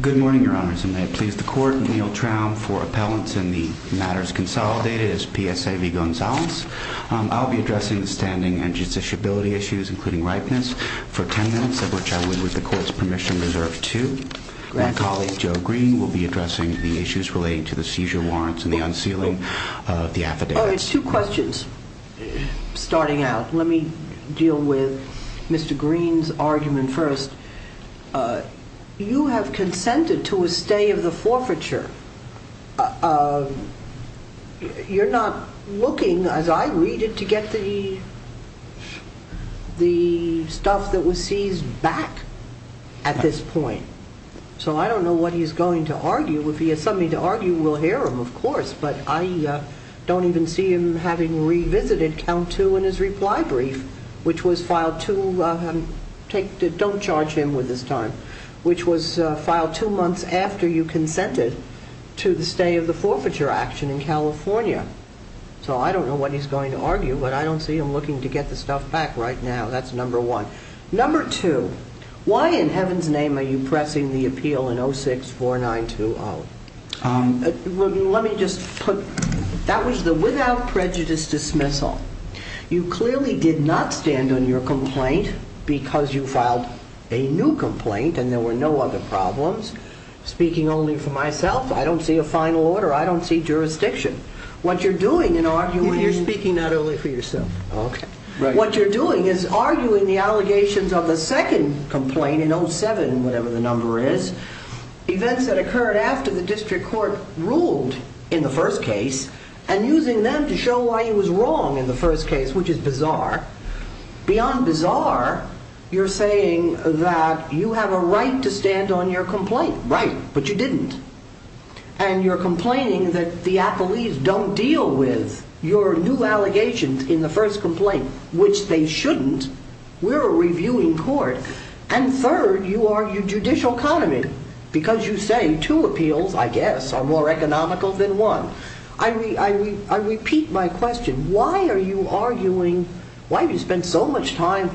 Good morning, Your Honors, and may it please the Court, Neil Traum for Appellants in the Matters Consolidated as PSA v. Gonzales. I'll be addressing the standing and judiciability issues, including ripeness, for ten minutes, of which I would, with the Court's permission, reserve two. My colleague, Joe Green, will be addressing the issues relating to the seizure warrants and the unsealing of the affidavits. Two questions, starting out. Let me deal with Mr. Green's argument first. You have consented to a stay of the forfeiture. You're not looking, as I read it, to get the stuff that was seized back at this point. So I don't know what he's going to argue. If he has something to argue, we'll hear him, of course, but I don't even see him having revisited count two in his reply brief, which was filed two months after you consented to the stay of the forfeiture action in California. So I don't know what he's going to argue, but I don't see him looking to get the stuff back right now. That's number one. Number two, why in heaven's name are you pressing the appeal in 06-4920? Let me just put, that was the without prejudice dismissal. You clearly did not stand on your complaint because you filed a new complaint and there were no other problems. Speaking only for myself, I don't see a final order. I don't see jurisdiction. What you're doing in arguing... You're speaking not only for yourself. What you're doing is arguing the allegations of the second complaint in 07, whatever the number is, events that occurred after the district court ruled in the first case and using them to show why he was wrong in the first case, which is bizarre. Beyond bizarre, you're saying that you have a right to stand on your complaint, but you didn't. And you're arguing two allegations in the first complaint, which they shouldn't. We're a reviewing court. And third, you argue judicial economy because you say two appeals, I guess, are more economical than one. I repeat my question. Why are you arguing... Why have you spent so much time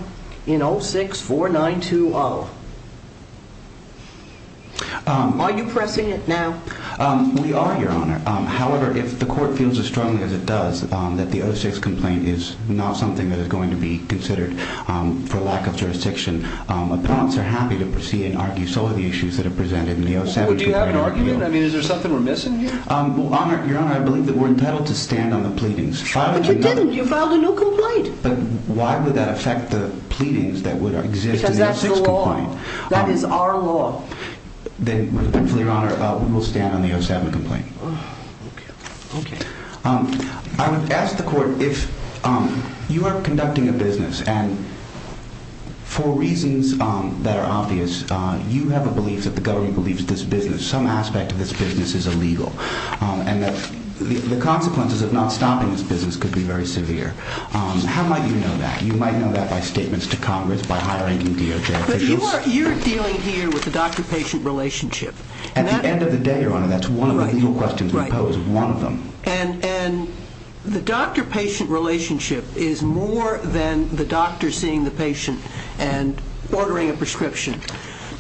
in 06-4920? Are you pressing it now? We are, Your Honor. However, if the court feels as strongly as it does that the 06 complaint is not something that is going to be considered for lack of jurisdiction, appellants are happy to proceed and argue some of the issues that are presented in the 07-4920. Do you have an argument? I mean, is there something we're missing here? Your Honor, I believe that we're entitled to stand on the pleadings. But you didn't. You filed a new complaint. But why would that affect the pleadings that would exist in the 06 complaint? Because that's the law. That is our law. Then, Your Honor, we will stand on the 07 complaint. Okay. Okay. I would ask the court if you are conducting a business, and for reasons that are obvious, you have a belief that the government believes this business, some aspect of this business is illegal, and that the consequences of not stopping this business could be very severe. How might you know that? You might know that by statements to Congress, by higher-ranking DOJ officials. But you're dealing here with the doctor-patient relationship. At the end of the day, Your Honor, that's one of the legal questions we pose, one of them. And the doctor-patient relationship is more than the doctor seeing the patient and ordering a prescription.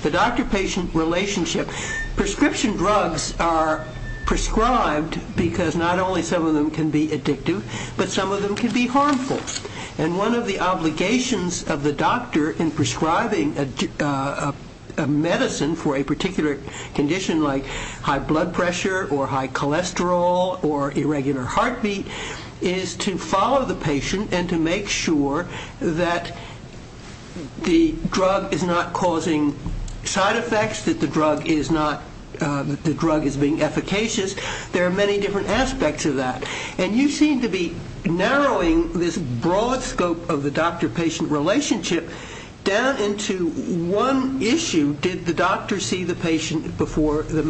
The doctor-patient relationship, prescription drugs are prescribed because not only some of them can be addictive, but some of them can be harmful. And one of the obligations of the doctor in prescribing a medicine for a particular condition like high blood pressure or high cholesterol or irregular heartbeat is to follow the patient and to make sure that the drug is not causing side effects, that the drug is being efficacious. There are many different aspects of that. And you seem to be narrowing this broad scope of the doctor-patient relationship down into one issue, did the doctor see the patient before the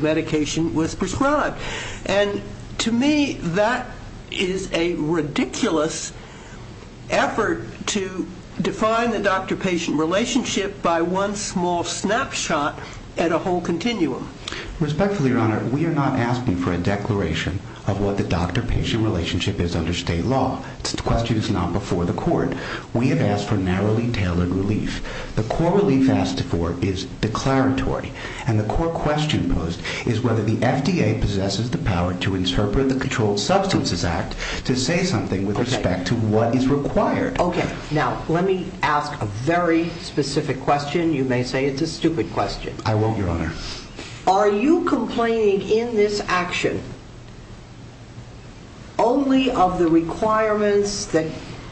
medication was prescribed? And to me, that is a ridiculous effort to define the doctor-patient relationship by one small snapshot at a whole continuum. Respectfully, Your Honor, we are not asking for a declaration of what the doctor-patient relationship is under state law. The question is not before the court. We have asked for narrowly tailored relief. The core relief asked for is declaratory. And the core question posed is whether the FDA possesses the power to interpret the Controlled Substances Act to say something with respect to what is required. Okay, now let me ask a very specific question. You may say it's a stupid question. I won't, Your Honor. Are you complaining in this action only of the requirements that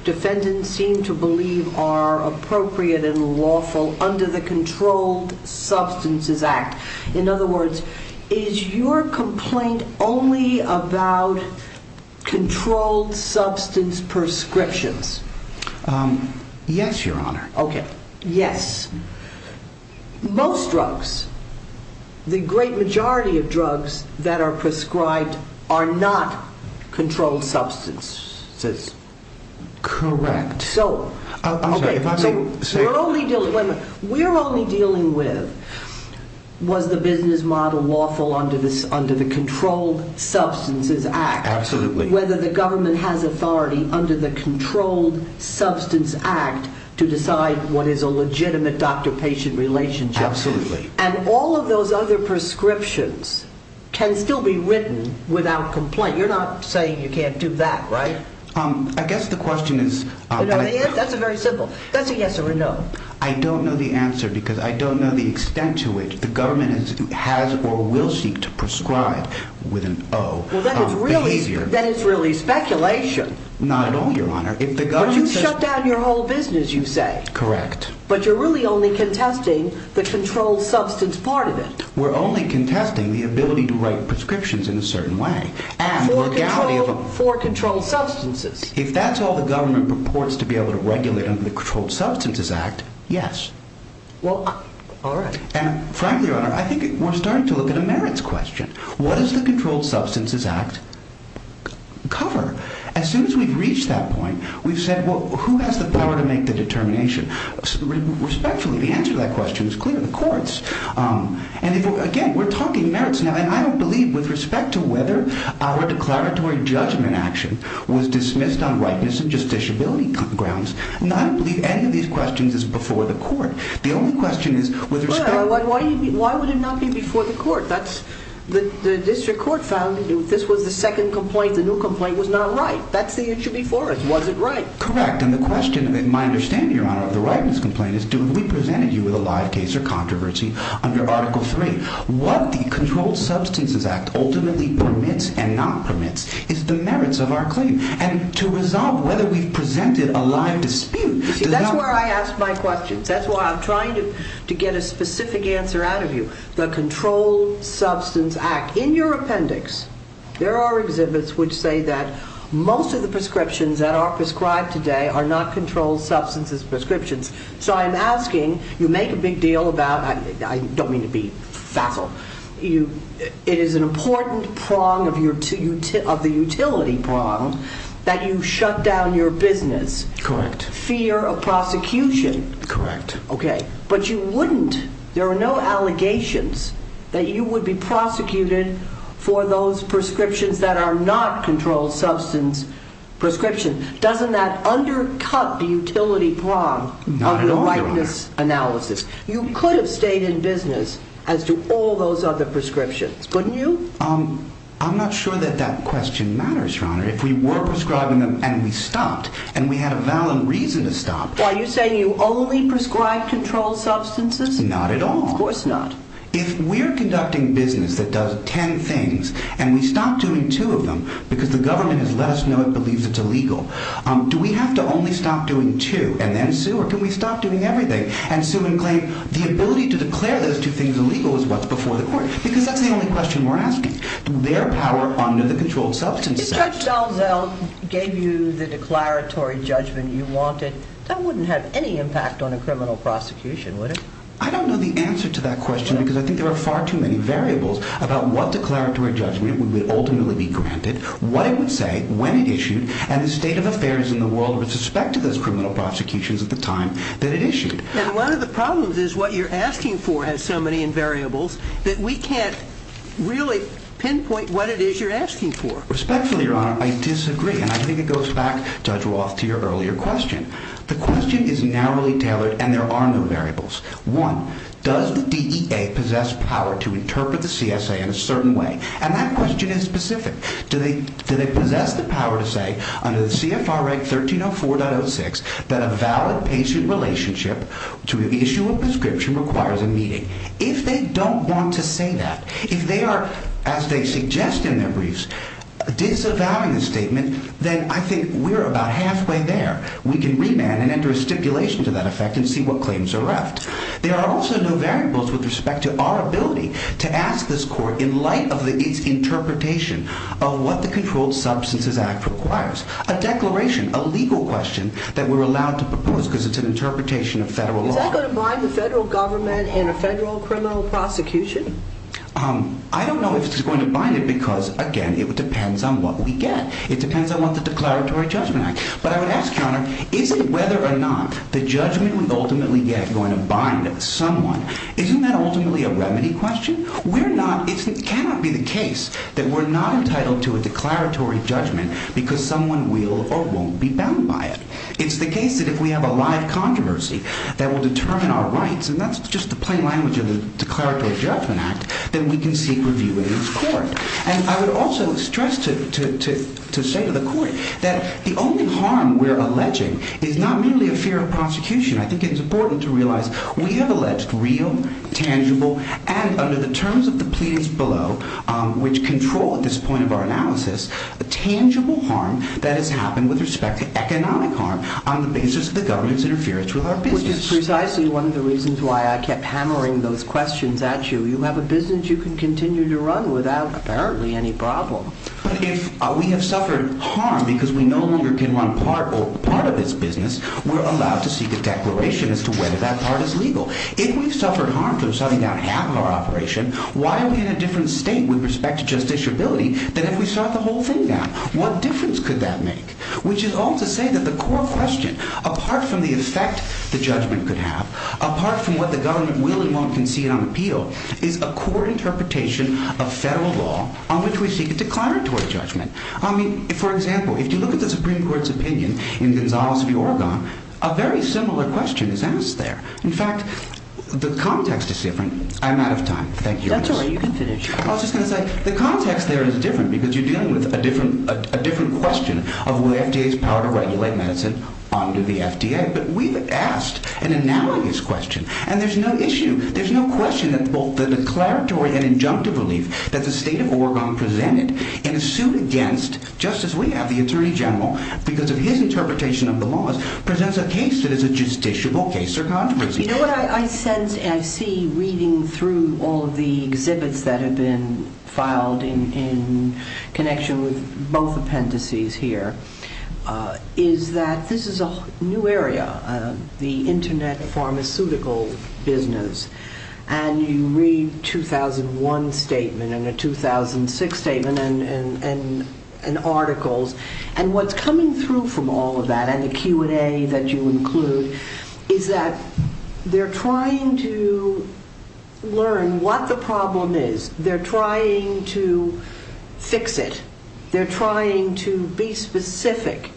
defendants seem to believe are appropriate and lawful under the Controlled Substances Act? In other words, is your complaint only about controlled substance prescriptions? Yes, Your Honor. Okay, yes. Most drugs, the great majority of drugs that are prescribed are not controlled substances. Correct. So, we're only dealing with, was the business model lawful under the Controlled Substances Act? Absolutely. Whether the government has authority under the Controlled Substances Act to decide what is a legitimate doctor-patient relationship. Absolutely. And all of those other prescriptions can still be written without complaint. You're not saying you can't do that, right? I guess the question is... That's a very simple. That's a yes or a no. I don't know the answer because I don't know the extent to which the government has or will seek to prescribe with an oh behavior. That is really speculation. Not at all, Your Honor. But you shut down your whole business, you say. Correct. But you're really only contesting the controlled substance part of it. We're only contesting the ability to write prescriptions in a certain way. For controlled substances. If that's all the government purports to be able to regulate under the Controlled Substances Act, yes. Well, all right. And frankly, Your Honor, I think we're starting to look at a merits question. What does the Controlled Substances Act cover? As soon as we've reached that point, we've said, well, who has the power to make the determination? Respectfully, the answer to that question is clear. The courts. And, again, we're talking merits now. And I don't believe with respect to whether our declaratory judgment action was dismissed on rightness and justiciability grounds, I don't believe any of these questions is before the court. The only question is with respect to... Why would it not be before the court? The district court found this was the second complaint. The new complaint was not right. That's the issue before us. Was it right? Correct. And the question, in my understanding, Your Honor, of the rightness complaint is, do we present you with a live case or controversy under Article 3? What the Controlled Substances Act ultimately permits and not permits is the merits of our claim. And to resolve whether we've presented a live dispute... You see, that's where I ask my questions. That's why I'm trying to get a specific answer out of you. The Controlled Substances Act. In your appendix, there are exhibits which say that most of the prescriptions that are prescribed today are not controlled substances prescriptions. So I'm asking, you make a big deal about... I don't mean to be facile. It is an important prong of the utility prong that you shut down your business. Correct. Fear of prosecution. Correct. Okay. But you wouldn't. There are no allegations that you would be prosecuted for those prescriptions that are not controlled substance prescriptions. Doesn't that undercut the utility prong of your rightness analysis? Not at all, Your Honor. You could have stayed in business as to all those other prescriptions, wouldn't you? I'm not sure that that question matters, Your Honor. If we were prescribing them and we stopped, and we had a valid reason to stop... Are you saying you only prescribe controlled substances? Not at all. Of course not. If we're conducting business that does ten things and we stop doing two of them because the government has let us know it believes it's illegal, do we have to only stop doing two and then sue? Or can we stop doing everything and sue and claim the ability to declare those two things illegal is what's before the court? Because that's the only question we're asking. Their power under the Controlled Substances Act. If Marcel Zell gave you the declaratory judgment you wanted, that wouldn't have any impact on a criminal prosecution, would it? I don't know the answer to that question because I think there are far too many variables about what declaratory judgment would ultimately be granted, what it would say, when it issued, and the state of affairs in the world with respect to those criminal prosecutions at the time that it issued. And one of the problems is what you're asking for has so many variables that we can't really pinpoint what it is you're asking for. Respectfully, Your Honor, I disagree. And I think it goes back, Judge Roth, to your earlier question. The question is narrowly tailored and there are no variables. One, does the DEA possess power to interpret the CSA in a certain way? And that question is specific. Do they possess the power to say under the CFR Act 1304.06 that a valid patient relationship to issue a prescription requires a meeting? If they don't want to say that, if they are, as they suggest in their briefs, disavowing the statement, then I think we're about halfway there. We can remand and enter a stipulation to that effect and see what claims are left. There are also no variables with respect to our ability to ask this court in light of its interpretation of what the Controlled Substances Act requires. A declaration, a legal question that we're allowed to propose because it's an interpretation of federal law. Is that going to bind the federal government in a federal criminal prosecution? I don't know if it's going to bind it because, again, it depends on what we get. It depends on what the Declaratory Judgment Act. But I would ask, Your Honor, is it whether or not the judgment we ultimately get going to bind someone? Isn't that ultimately a remedy question? It cannot be the case that we're not entitled to a declaratory judgment because someone will or won't be bound by it. It's the case that if we have a live controversy that will determine our rights, and that's just the plain language of the Declaratory Judgment Act, then we can seek review in this court. And I would also stress to say to the court that the only harm we're alleging is not merely a fear of prosecution. I think it's important to realize we have alleged real, tangible, and under the terms of the pleadings below, which control at this point of our analysis, a tangible harm that has happened with respect to economic harm on the basis of the government's interference with our business. Which is precisely one of the reasons why I kept hammering those questions at you. You have a business you can continue to run without, apparently, any problem. But if we have suffered harm because we no longer can run part of its business, we're allowed to seek a declaration as to whether that part is legal. If we've suffered harm from shutting down half of our operation, why are we in a different state with respect to justiciability than if we shut the whole thing down? What difference could that make? Which is all to say that the core question, apart from the effect the judgment could have, apart from what the government will and won't concede on appeal, is a court interpretation of federal law on which we seek a declaratory judgment. I mean, for example, if you look at the Supreme Court's opinion in Gonzales v. Oregon, a very similar question is asked there. In fact, the context is different. I'm out of time. Thank you. That's all right. You can finish. I was just going to say, the context there is different because you're dealing with a different question of whether the FDA has power to regulate medicine under the FDA. But we've asked an analogous question, and there's no issue. There's no question that both the declaratory and injunctive relief that the state of Oregon presented in a suit against, just as we have, the Attorney General, because of his interpretation of the laws, presents a case that is a justiciable case or controversy. You know what I sense and I see reading through all of the exhibits that have been filed in connection with both appendices here, is that this is a new area, the Internet pharmaceutical business. And you read a 2001 statement and a 2006 statement and articles. And what's coming through from all of that, and the Q&A that you include, is that they're trying to learn what the problem is. They're trying to fix it. They're trying to be specific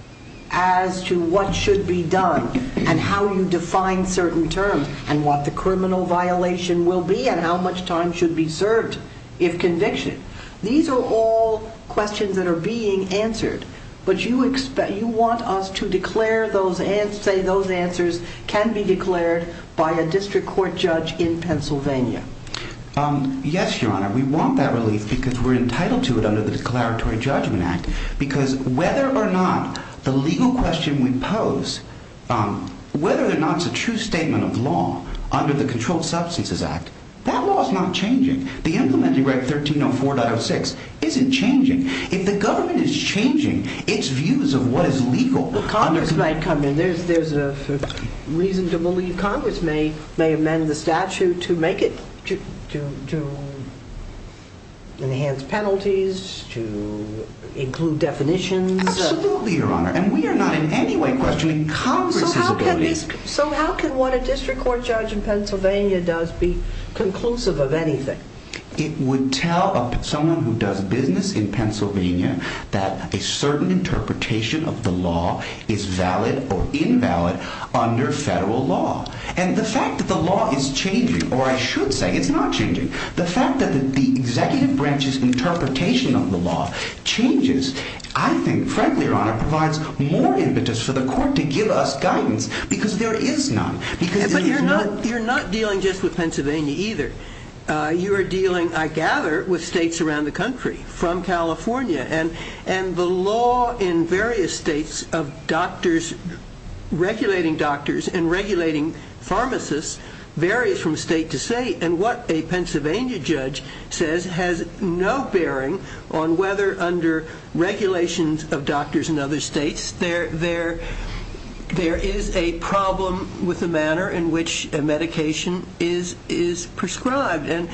as to what should be done, and how you define certain terms, and what the criminal violation will be, and how much time should be served if convicted. These are all questions that are being answered. But you want us to say those answers can be declared by a district court judge in Pennsylvania. Yes, Your Honor, we want that relief because we're entitled to it under the Declaratory Judgment Act. Because whether or not the legal question we pose, whether or not it's a true statement of law under the Controlled Substances Act, that law is not changing. The implementing Reg. 1304.06 isn't changing. If the government is changing its views of what is legal... Congress might come in. There's a reason to believe Congress may amend the statute to enhance penalties, to include definitions. Absolutely, Your Honor. And we are not in any way questioning Congress's ability... So how can what a district court judge in Pennsylvania does be conclusive of anything? It would tell someone who does business in Pennsylvania that a certain interpretation of the law is valid or invalid under federal law. And the fact that the law is changing, or I should say it's not changing, the fact that the executive branch's interpretation of the law changes, I think, frankly, Your Honor, provides more impetus for the court to give us guidance because there is none. But you're not dealing just with Pennsylvania either. You are dealing, I gather, with states around the country, from California. And the law in various states of doctors regulating doctors and regulating pharmacists varies from state to state. And what a Pennsylvania judge says has no bearing on whether under regulations of doctors in other states there is a problem with the manner in which a medication is prescribed. And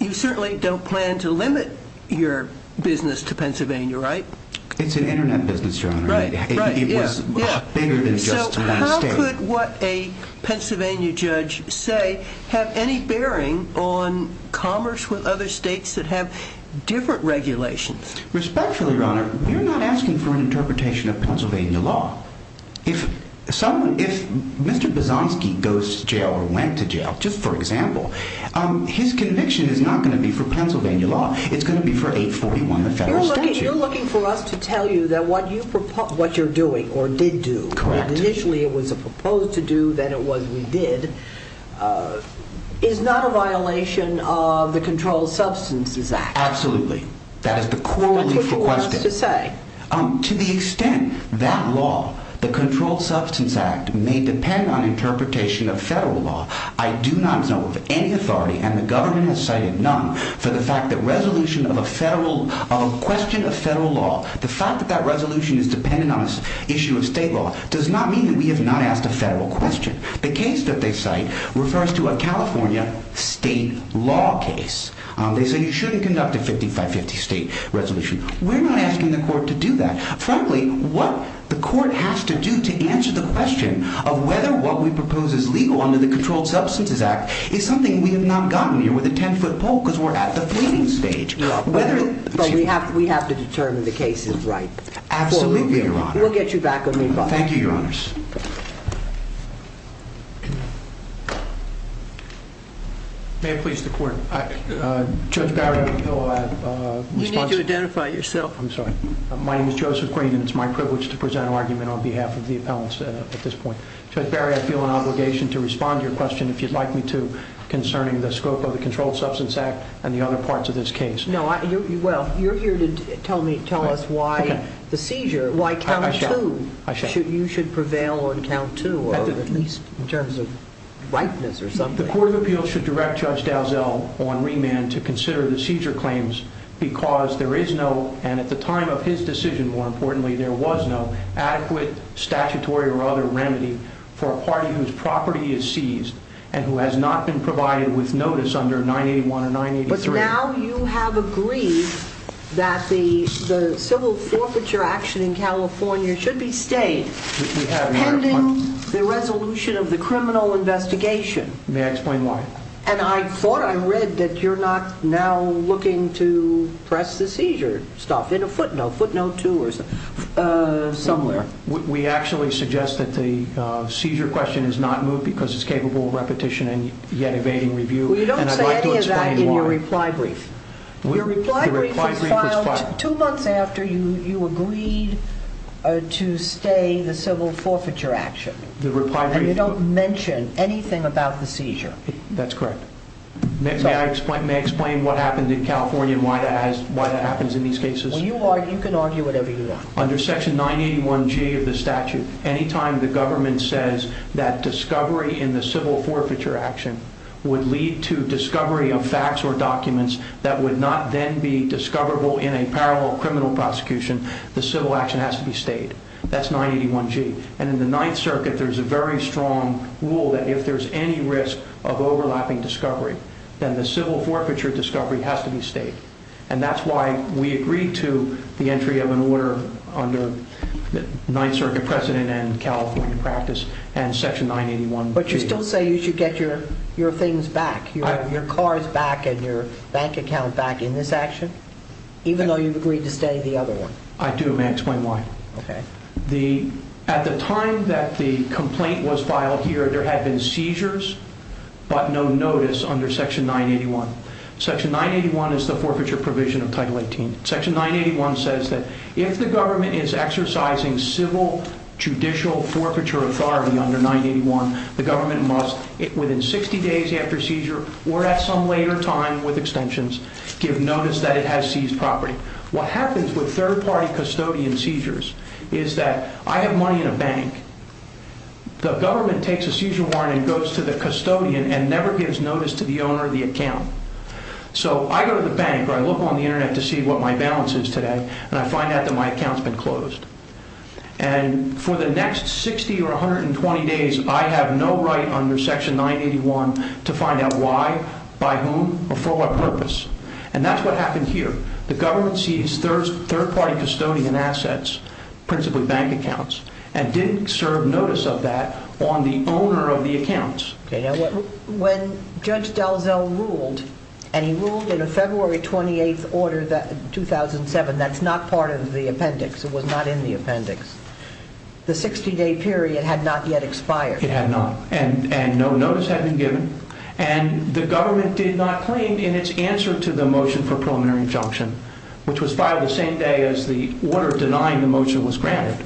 you certainly don't plan to limit your business to Pennsylvania, right? It's an Internet business, Your Honor. Right, right. It was bigger than just one state. So how could what a Pennsylvania judge say have any bearing on commerce with other states that have different regulations? Respectfully, Your Honor, you're not asking for an interpretation of Pennsylvania law. If Mr. Buzanski goes to jail or went to jail, just for example, his conviction is not going to be for Pennsylvania law. It's going to be for 841, the federal statute. You're looking for us to tell you that what you're doing or did do, that initially it was a proposed to do, then it was we did, is not a violation of the Controlled Substances Act. Absolutely. That is the core of the question. That's what you want us to say. To the extent that law, the Controlled Substances Act, may depend on interpretation of federal law, I do not know of any authority, and the government has cited none, for the fact that resolution of a question of federal law, the fact that that resolution is dependent on an issue of state law does not mean that we have not asked a federal question. The case that they cite refers to a California state law case. They say you shouldn't conduct a 55-50 state resolution. We're not asking the court to do that. Frankly, what the court has to do to answer the question of whether what we propose is legal under the Controlled Substances Act is something we have not gotten here with a 10-foot pole because we're at the fleeting stage. But we have to determine the case is right. Absolutely, Your Honor. We'll get you back on me, Bob. Thank you, Your Honors. May it please the court. Judge Barry, I'm the pillow ad response. You need to identify yourself. I'm sorry. My name is Joseph Green, and it's my privilege to present an argument on behalf of the appellants at this point. Judge Barry, I feel an obligation to respond to your question, if you'd like me to, concerning the scope of the Controlled Substances Act and the other parts of this case. No, well, you're here to tell us why the seizure, why count two. I shall. Why you should prevail on count two, or at least in terms of ripeness or something. The Court of Appeals should direct Judge Dalziel on remand to consider the seizure claims because there is no, and at the time of his decision, more importantly, there was no adequate statutory or other remedy for a party whose property is seized and who has not been provided with notice under 981 or 983. Now you have agreed that the civil forfeiture action in California should be stayed pending the resolution of the criminal investigation. May I explain why? And I thought I read that you're not now looking to press the seizure stuff in a footnote, footnote two or somewhere. We actually suggest that the seizure question is not moved because it's capable of repetition and yet evading review. We don't say any of that in your reply brief. Your reply brief was filed two months after you agreed to stay the civil forfeiture action. And you don't mention anything about the seizure. That's correct. May I explain what happened in California and why that happens in these cases? You can argue whatever you want. Under Section 981G of the statute, any time the government says that discovery in the civil forfeiture action would lead to discovery of facts or documents that would not then be discoverable in a parallel criminal prosecution, the civil action has to be stayed. That's 981G. And in the Ninth Circuit, there's a very strong rule that if there's any risk of overlapping discovery, then the civil forfeiture discovery has to be stayed. And that's why we agreed to the entry of an order under the Ninth Circuit precedent and California practice and Section 981G. But you still say you should get your things back, your cars back and your bank account back in this action, even though you've agreed to stay the other one? I do. May I explain why? Okay. At the time that the complaint was filed here, there had been seizures but no notice under Section 981. Section 981 is the forfeiture provision of Title 18. Section 981 says that if the government is exercising civil judicial forfeiture authority under 981, the government must, within 60 days after seizure or at some later time with extensions, give notice that it has seized property. What happens with third-party custodian seizures is that I have money in a bank. The government takes a seizure warrant and goes to the custodian and never gives notice to the owner of the account. So I go to the bank or I look on the Internet to see what my balance is today and I find out that my account's been closed. And for the next 60 or 120 days, I have no right under Section 981 to find out why, by whom or for what purpose. And that's what happened here. The government seized third-party custodian assets, principally bank accounts, and didn't serve notice of that on the owner of the accounts. Okay. Now, when Judge Dalzell ruled, and he ruled in a February 28th order, 2007, that's not part of the appendix. It was not in the appendix. The 60-day period had not yet expired. It had not. And no notice had been given. And the government did not claim in its answer to the motion for preliminary injunction, which was filed the same day as the order denying the motion was granted,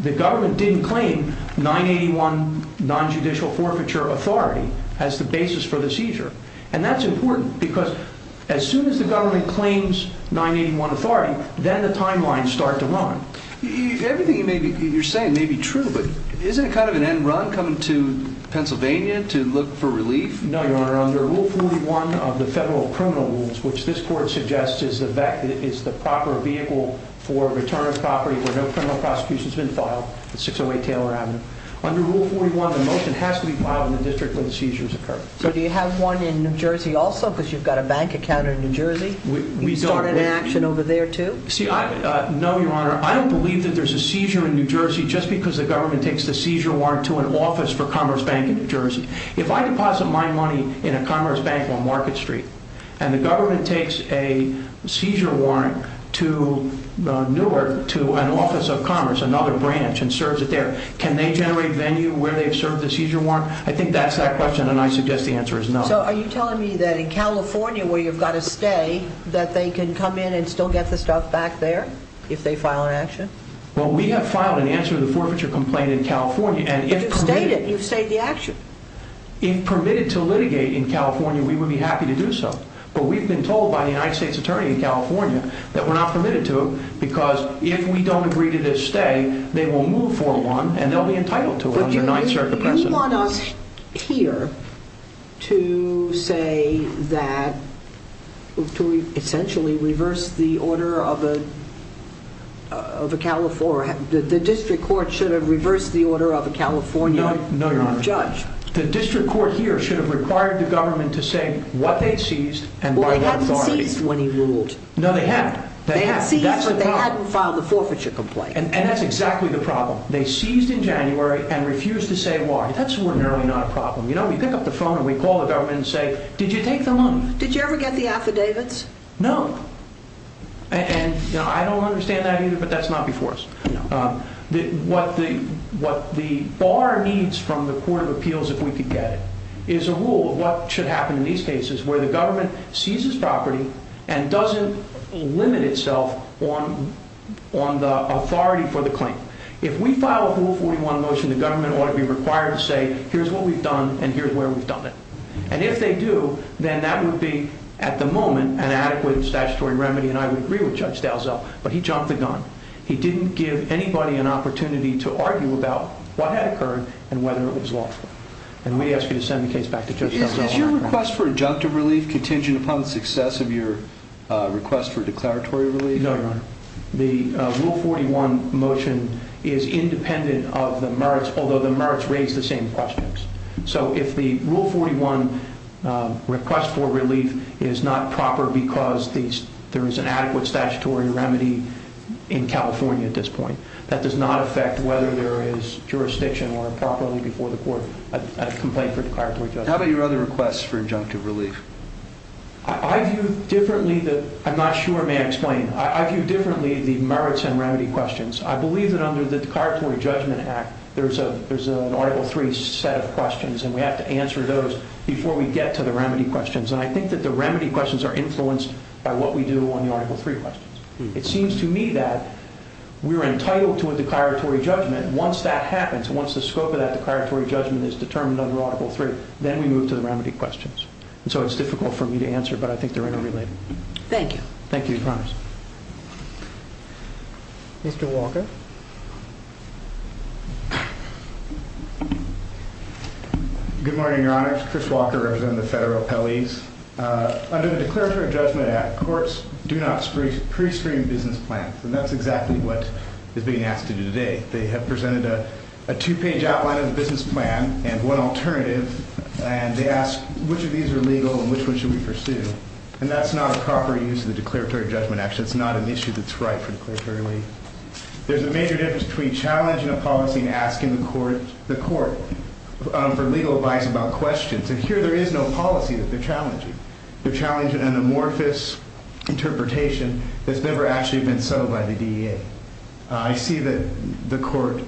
the government didn't claim 981 nonjudicial forfeiture authority as the basis for the seizure. And that's important because as soon as the government claims 981 authority, then the timelines start to run. Everything you're saying may be true, but isn't it kind of an end run coming to Pennsylvania to look for relief? No, Your Honor. Under Rule 41 of the federal criminal rules, which this court suggests is the proper vehicle for return of property where no criminal prosecution has been filed, 608 Taylor Avenue, under Rule 41, the motion has to be filed in the district where the seizures occurred. So do you have one in New Jersey also because you've got a bank account in New Jersey? We don't. You can start an action over there, too? No, Your Honor. I don't believe that there's a seizure in New Jersey just because the government takes the seizure warrant to an office for Commerce Bank in New Jersey. If I deposit my money in a Commerce Bank on Market Street and the government takes a seizure warrant to Newark to an office of Commerce, another branch, and serves it there, can they generate venue where they've served the seizure warrant? I think that's that question, and I suggest the answer is no. So are you telling me that in California where you've got to stay that they can come in and still get the stuff back there if they file an action? Well, we have filed an answer to the forfeiture complaint in California. But you've stayed it. You've stayed the action. If permitted to litigate in California, we would be happy to do so. But we've been told by the United States Attorney in California that we're not permitted to because if we don't agree to this stay, they will move for one, and they'll be entitled to it under Ninth Circuit precedent. Do you want us here to say that, to essentially reverse the order of a California, the district court should have reversed the order of a California judge? No, Your Honor. The district court here should have required the government to say what they seized and by what authority. Well, they hadn't seized when he ruled. No, they had. They had seized, but they hadn't filed the forfeiture complaint. And that's exactly the problem. They seized in January and refused to say why. That's ordinarily not a problem. You know, we pick up the phone and we call the government and say, did you take the money? Did you ever get the affidavits? No. And I don't understand that either, but that's not before us. What the bar needs from the Court of Appeals, if we could get it, is a rule of what should happen in these cases where the government seizes property and doesn't limit itself on the authority for the claim. If we file a Rule 41 motion, the government ought to be required to say, here's what we've done and here's where we've done it. And if they do, then that would be, at the moment, an adequate statutory remedy and I would agree with Judge Dalzell, but he jumped the gun. He didn't give anybody an opportunity to argue about what had occurred and whether it was lawful. And we ask you to send the case back to Judge Dalzell. Is your request for adjunctive relief contingent upon the success of your request for declaratory relief? No, Your Honor. The Rule 41 motion is independent of the merits, although the merits raise the same questions. So if the Rule 41 request for relief is not proper because there is an adequate statutory remedy in California at this point, that does not affect whether there is jurisdiction or improperly before the court a complaint for declaratory judgment. How about your other requests for adjunctive relief? I view differently the merits and remedy questions. I believe that under the Declaratory Judgment Act, there's an Article 3 set of questions and we have to answer those before we get to the remedy questions. And I think that the remedy questions are influenced by what we do on the Article 3 questions. It seems to me that we're entitled to a declaratory judgment. Once that happens, once the scope of that declaratory judgment is determined under Article 3, then we move to the remedy questions. And so it's difficult for me to answer, but I think they're interrelated. Thank you. Thank you. We promise. Mr. Walker. Good morning, Your Honor. Chris Walker representing the federal appellees. Under the Declaratory Judgment Act, courts do not pre-screen business plans, and that's exactly what is being asked to do today. They have presented a two-page outline of the business plan and one alternative, and they ask which of these are legal and which one should we pursue. And that's not a proper use of the Declaratory Judgment Act. It's not an issue that's right for declaratory relief. There's a major difference between challenging a policy and asking the court for legal advice about questions. And here there is no policy that they're challenging. They're challenging an amorphous interpretation that's never actually been settled by the DEA. I see that the court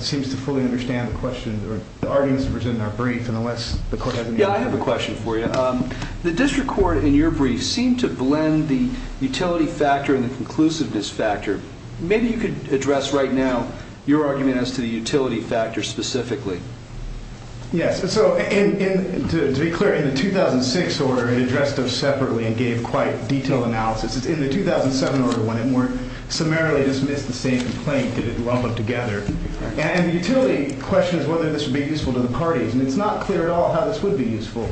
seems to fully understand the questions or the arguments presented in our brief, and unless the court has any other questions. Yeah, I have a question for you. The district court in your brief seemed to blend the utility factor and the conclusiveness factor. Maybe you could address right now your argument as to the utility factor specifically. Yes. So to be clear, in the 2006 order, it addressed those separately and gave quite detailed analysis. In the 2007 order, when it more summarily dismissed the same complaint, it didn't lump them together. And the utility question is whether this would be useful to the parties, and it's not clear at all how this would be useful.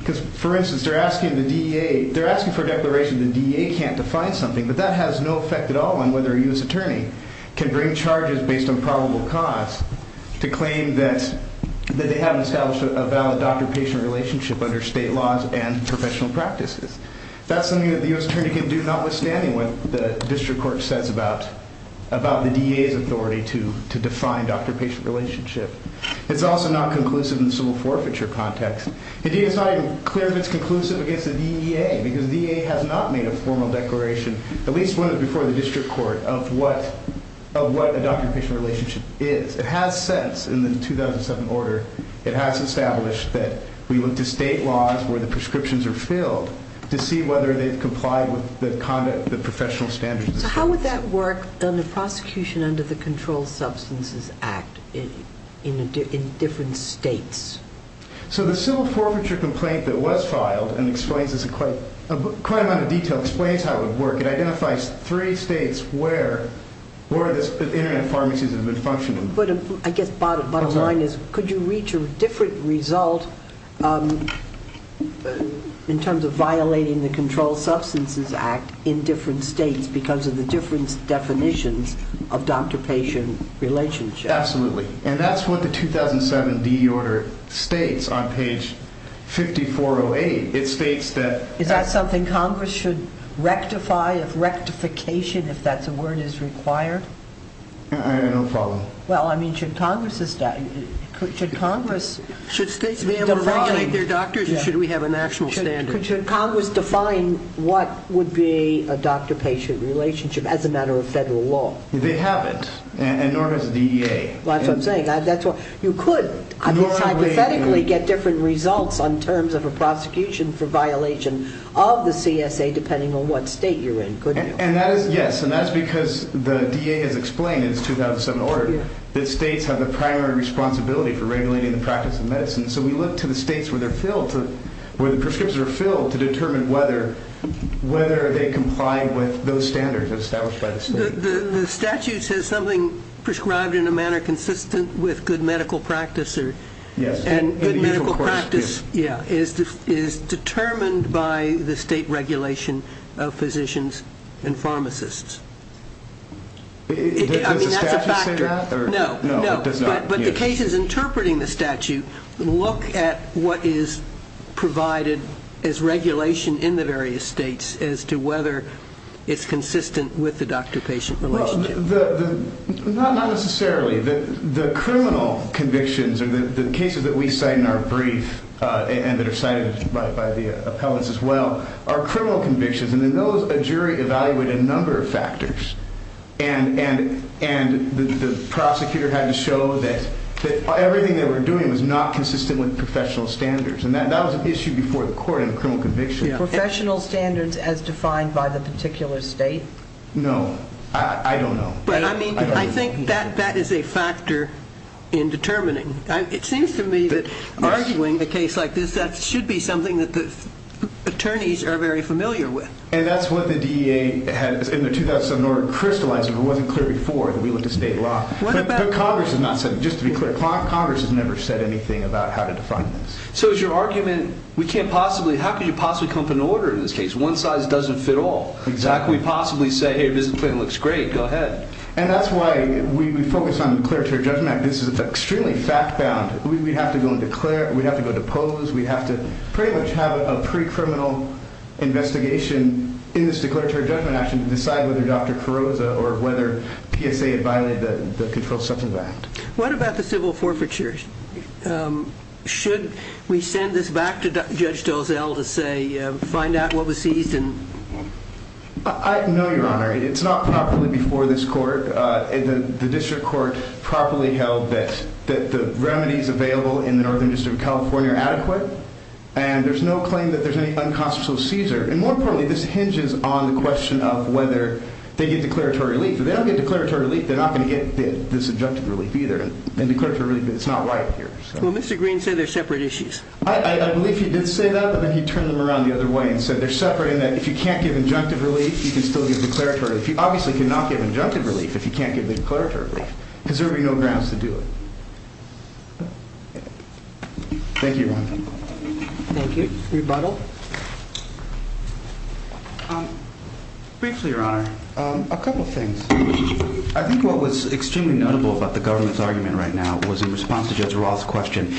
Because, for instance, they're asking the DEA – they're asking for a declaration the DEA can't define something, but that has no effect at all on whether a U.S. attorney can bring charges based on probable cause to claim that they haven't established a valid doctor-patient relationship under state laws and professional practices. That's something that the U.S. attorney can do, notwithstanding what the district court says about the DEA's authority to define doctor-patient relationship. It's also not conclusive in the civil forfeiture context. Indeed, it's not even clear if it's conclusive against the DEA, because the DEA has not made a formal declaration, at least before the district court, of what a doctor-patient relationship is. It has since, in the 2007 order, it has established that we look to state laws where the prescriptions are filled to see whether they've complied with the professional standards of the states. So how would that work in the prosecution under the Controlled Substances Act in different states? So the civil forfeiture complaint that was filed, and explains this in quite a amount of detail, explains how it would work. It identifies three states where the internet pharmacies have been functioning. But I guess bottom line is, could you reach a different result in terms of violating the Controlled Substances Act in different states because of the different definitions of doctor-patient relationship? Absolutely. And that's what the 2007 DEA order states on page 5408. Is that something Congress should rectify, if rectification, if that's a word, is required? I have no problem. Well, I mean, should Congress define what would be a doctor-patient relationship as a matter of federal law? They haven't, and nor has the DEA. Well, that's what I'm saying. You could hypothetically get different results on terms of a prosecution for violation of the CSA, depending on what state you're in, couldn't you? Yes, and that's because the DEA has explained in its 2007 order that states have the primary responsibility for regulating the practice of medicine. So we look to the states where the prescriptions are filled to determine whether they comply with those standards established by the state. The statute says something prescribed in a manner consistent with good medical practice is determined by the state regulation of physicians and pharmacists. Does the statute say that? No, but the cases interpreting the statute look at what is provided as regulation in the various states as to whether it's consistent with the doctor-patient relationship. Not necessarily. The criminal convictions, or the cases that we cite in our brief, and that are cited by the appellants as well, are criminal convictions. And in those, a jury evaluated a number of factors, and the prosecutor had to show that everything they were doing was not consistent with professional standards. And that was an issue before the court in a criminal conviction. Professional standards as defined by the particular state? No, I don't know. But I mean, I think that that is a factor in determining. It seems to me that arguing a case like this, that should be something that the attorneys are very familiar with. And that's what the DEA had in their 2007 order crystallized, but it wasn't clear before that we looked at state law. But Congress has not said, just to be clear, Congress has never said anything about how to define this. So is your argument, we can't possibly, how can you possibly come up with an order in this case? One size doesn't fit all. Exactly. We'd possibly say, hey, this claim looks great. Go ahead. And that's why we focus on the declaratory judgment. This is extremely fact-bound. We'd have to go and declare, we'd have to go depose, we'd have to pretty much have a pre-criminal investigation in this declaratory judgment action to decide whether Dr. Carrozza or whether PSA had violated the Controlled Substance Act. What about the civil forfeiture? Should we send this back to Judge Dozell to say, find out what was seized? No, Your Honor. It's not properly before this court. The district court properly held that the remedies available in the Northern District of California are adequate. And there's no claim that there's any unconstitutional seizure. And more importantly, this hinges on the question of whether they get declaratory relief. If they don't get declaratory relief, they're not going to get this objective relief either. It's not right here. Well, Mr. Green said they're separate issues. I believe he did say that, but then he turned them around the other way and said they're separate in that if you can't give injunctive relief, you can still give declaratory. If you obviously cannot give injunctive relief, if you can't give declaratory relief, there would be no grounds to do it. Thank you, Your Honor. Thank you. Rebuttal? Briefly, Your Honor, a couple of things. I think what was extremely notable about the government's argument right now was in response to Judge Roth's question.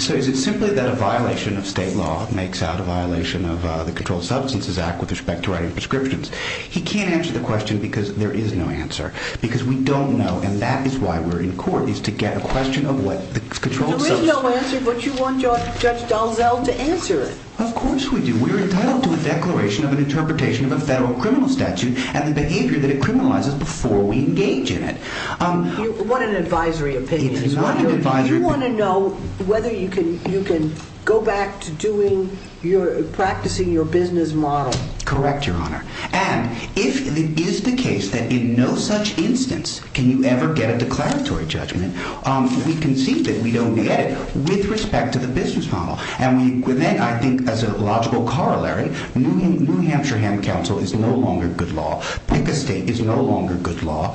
So is it simply that a violation of state law makes out a violation of the Controlled Substances Act with respect to writing prescriptions? He can't answer the question because there is no answer. Because we don't know, and that is why we're in court, is to get a question of what the Controlled Substances Act is. There is no answer, but you want Judge Dalzell to answer it. Of course we do. We're entitled to a declaration of an interpretation of a federal criminal statute and the behavior that it criminalizes before we engage in it. You want an advisory opinion. You want an advisory opinion. You want to know whether you can go back to practicing your business model. Correct, Your Honor. And if it is the case that in no such instance can you ever get a declaratory judgment, we concede that we don't get it with respect to the business model. And then I think as a logical corollary, New Hampshire Hand Counsel is no longer good law. PICA State is no longer good law.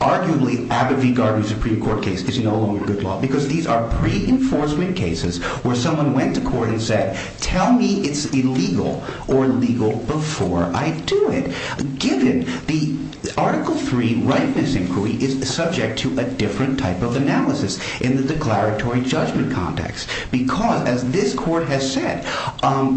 Arguably, Abbott v. Gardner Supreme Court case is no longer good law because these are pre-enforcement cases where someone went to court and said, tell me it's illegal or legal before I do it. Given the Article III rightness inquiry is subject to a different type of analysis in the declaratory judgment context. Because as this court has said,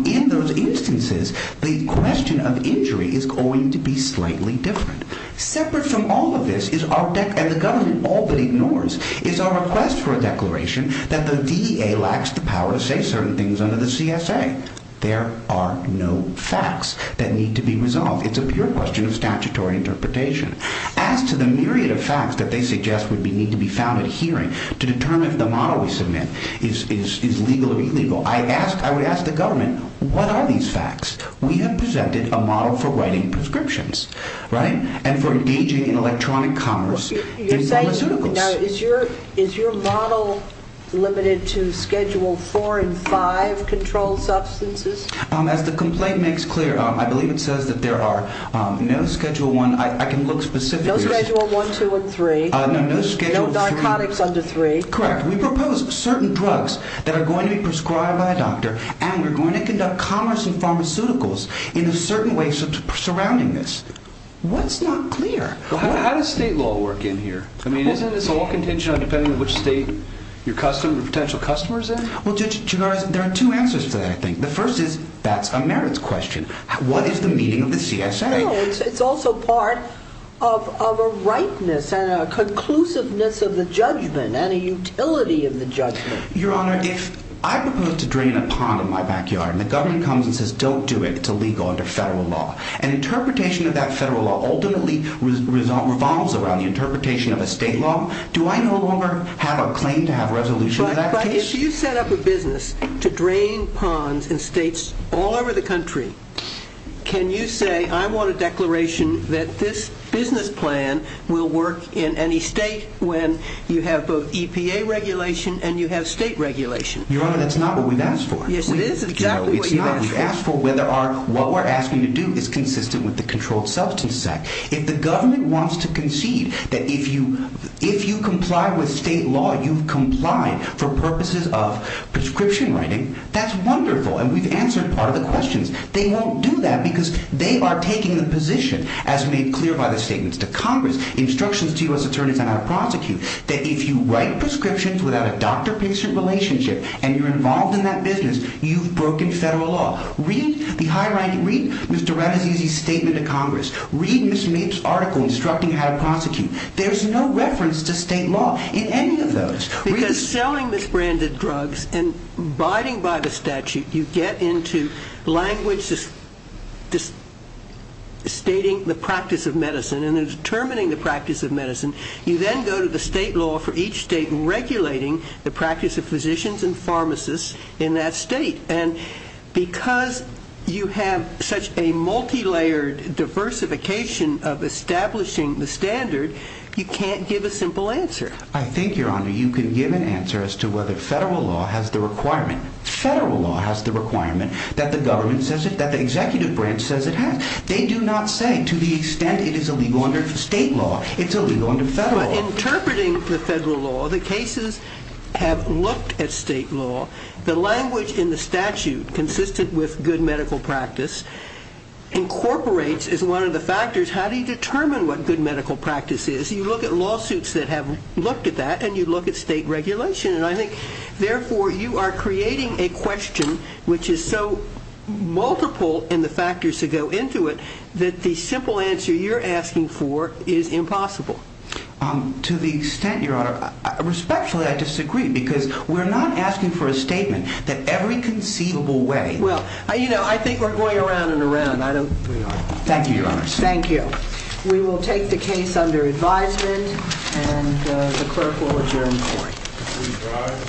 in those instances, the question of injury is going to be slightly different. Separate from all of this is our, and the government all but ignores, is our request for a declaration that the DEA lacks the power to say certain things under the CSA. There are no facts that need to be resolved. It's a pure question of statutory interpretation. As to the myriad of facts that they suggest would need to be found at hearing to determine if the model we submit is legal or illegal, I would ask the government, what are these facts? We have presented a model for writing prescriptions, right? And for engaging in electronic commerce in pharmaceuticals. Now, is your model limited to Schedule IV and V controlled substances? As the complaint makes clear, I believe it says that there are no Schedule I. I can look specifically. No Schedule I, II, and III. No, no Schedule III. No narcotics under III. Correct. We propose certain drugs that are going to be prescribed by a doctor, and we're going to conduct commerce in pharmaceuticals in a certain way surrounding this. What's not clear? How does state law work in here? I mean, isn't this all contingent on depending on which state your potential customer is in? Well, Judge Chigares, there are two answers to that, I think. The first is, that's a merits question. What is the meaning of the CSA? No, it's also part of a rightness and a conclusiveness of the judgment and a utility of the judgment. Your Honor, if I propose to drain a pond in my backyard and the government comes and says, don't do it, it's illegal under federal law, and interpretation of that federal law ultimately revolves around the interpretation of a state law, do I no longer have a claim to have resolution to that case? Your Honor, if you set up a business to drain ponds in states all over the country, can you say, I want a declaration that this business plan will work in any state when you have both EPA regulation and you have state regulation? Your Honor, that's not what we've asked for. Yes, it is exactly what you've asked for. No, it's not. We've asked for whether what we're asking to do is consistent with the Controlled Substances Act. If the government wants to concede that if you comply with state law, you've complied for purposes of prescription writing, that's wonderful, and we've answered part of the questions. They won't do that because they are taking the position, as made clear by the statements to Congress, instructions to U.S. attorneys and our prosecutors, that if you write prescriptions without a doctor-patient relationship and you're involved in that business, you've broken federal law. Read Mr. Rattasisi's statement to Congress. Read Mr. Mapes' article instructing how to prosecute. There's no reference to state law in any of those. Because selling misbranded drugs and abiding by the statute, you get into language stating the practice of medicine and determining the practice of medicine. You then go to the state law for each state and regulating the practice of physicians and pharmacists in that state. And because you have such a multilayered diversification of establishing the standard, you can't give a simple answer. I think, Your Honor, you can give an answer as to whether federal law has the requirement. Federal law has the requirement that the government says it, that the executive branch says it has. They do not say to the extent it is illegal under state law. It's illegal under federal law. But interpreting the federal law, the cases have looked at state law. The language in the statute consistent with good medical practice incorporates as one of the factors how do you determine what good medical practice is. You look at lawsuits that have looked at that, and you look at state regulation. And I think, therefore, you are creating a question which is so multiple in the factors that go into it that the simple answer you're asking for is impossible. To the extent, Your Honor, respectfully I disagree because we're not asking for a statement that every conceivable way. Well, you know, I think we're going around and around. Thank you, Your Honor. Thank you. We will take the case under advisement, and the clerk will adjourn the hearing. Thank you.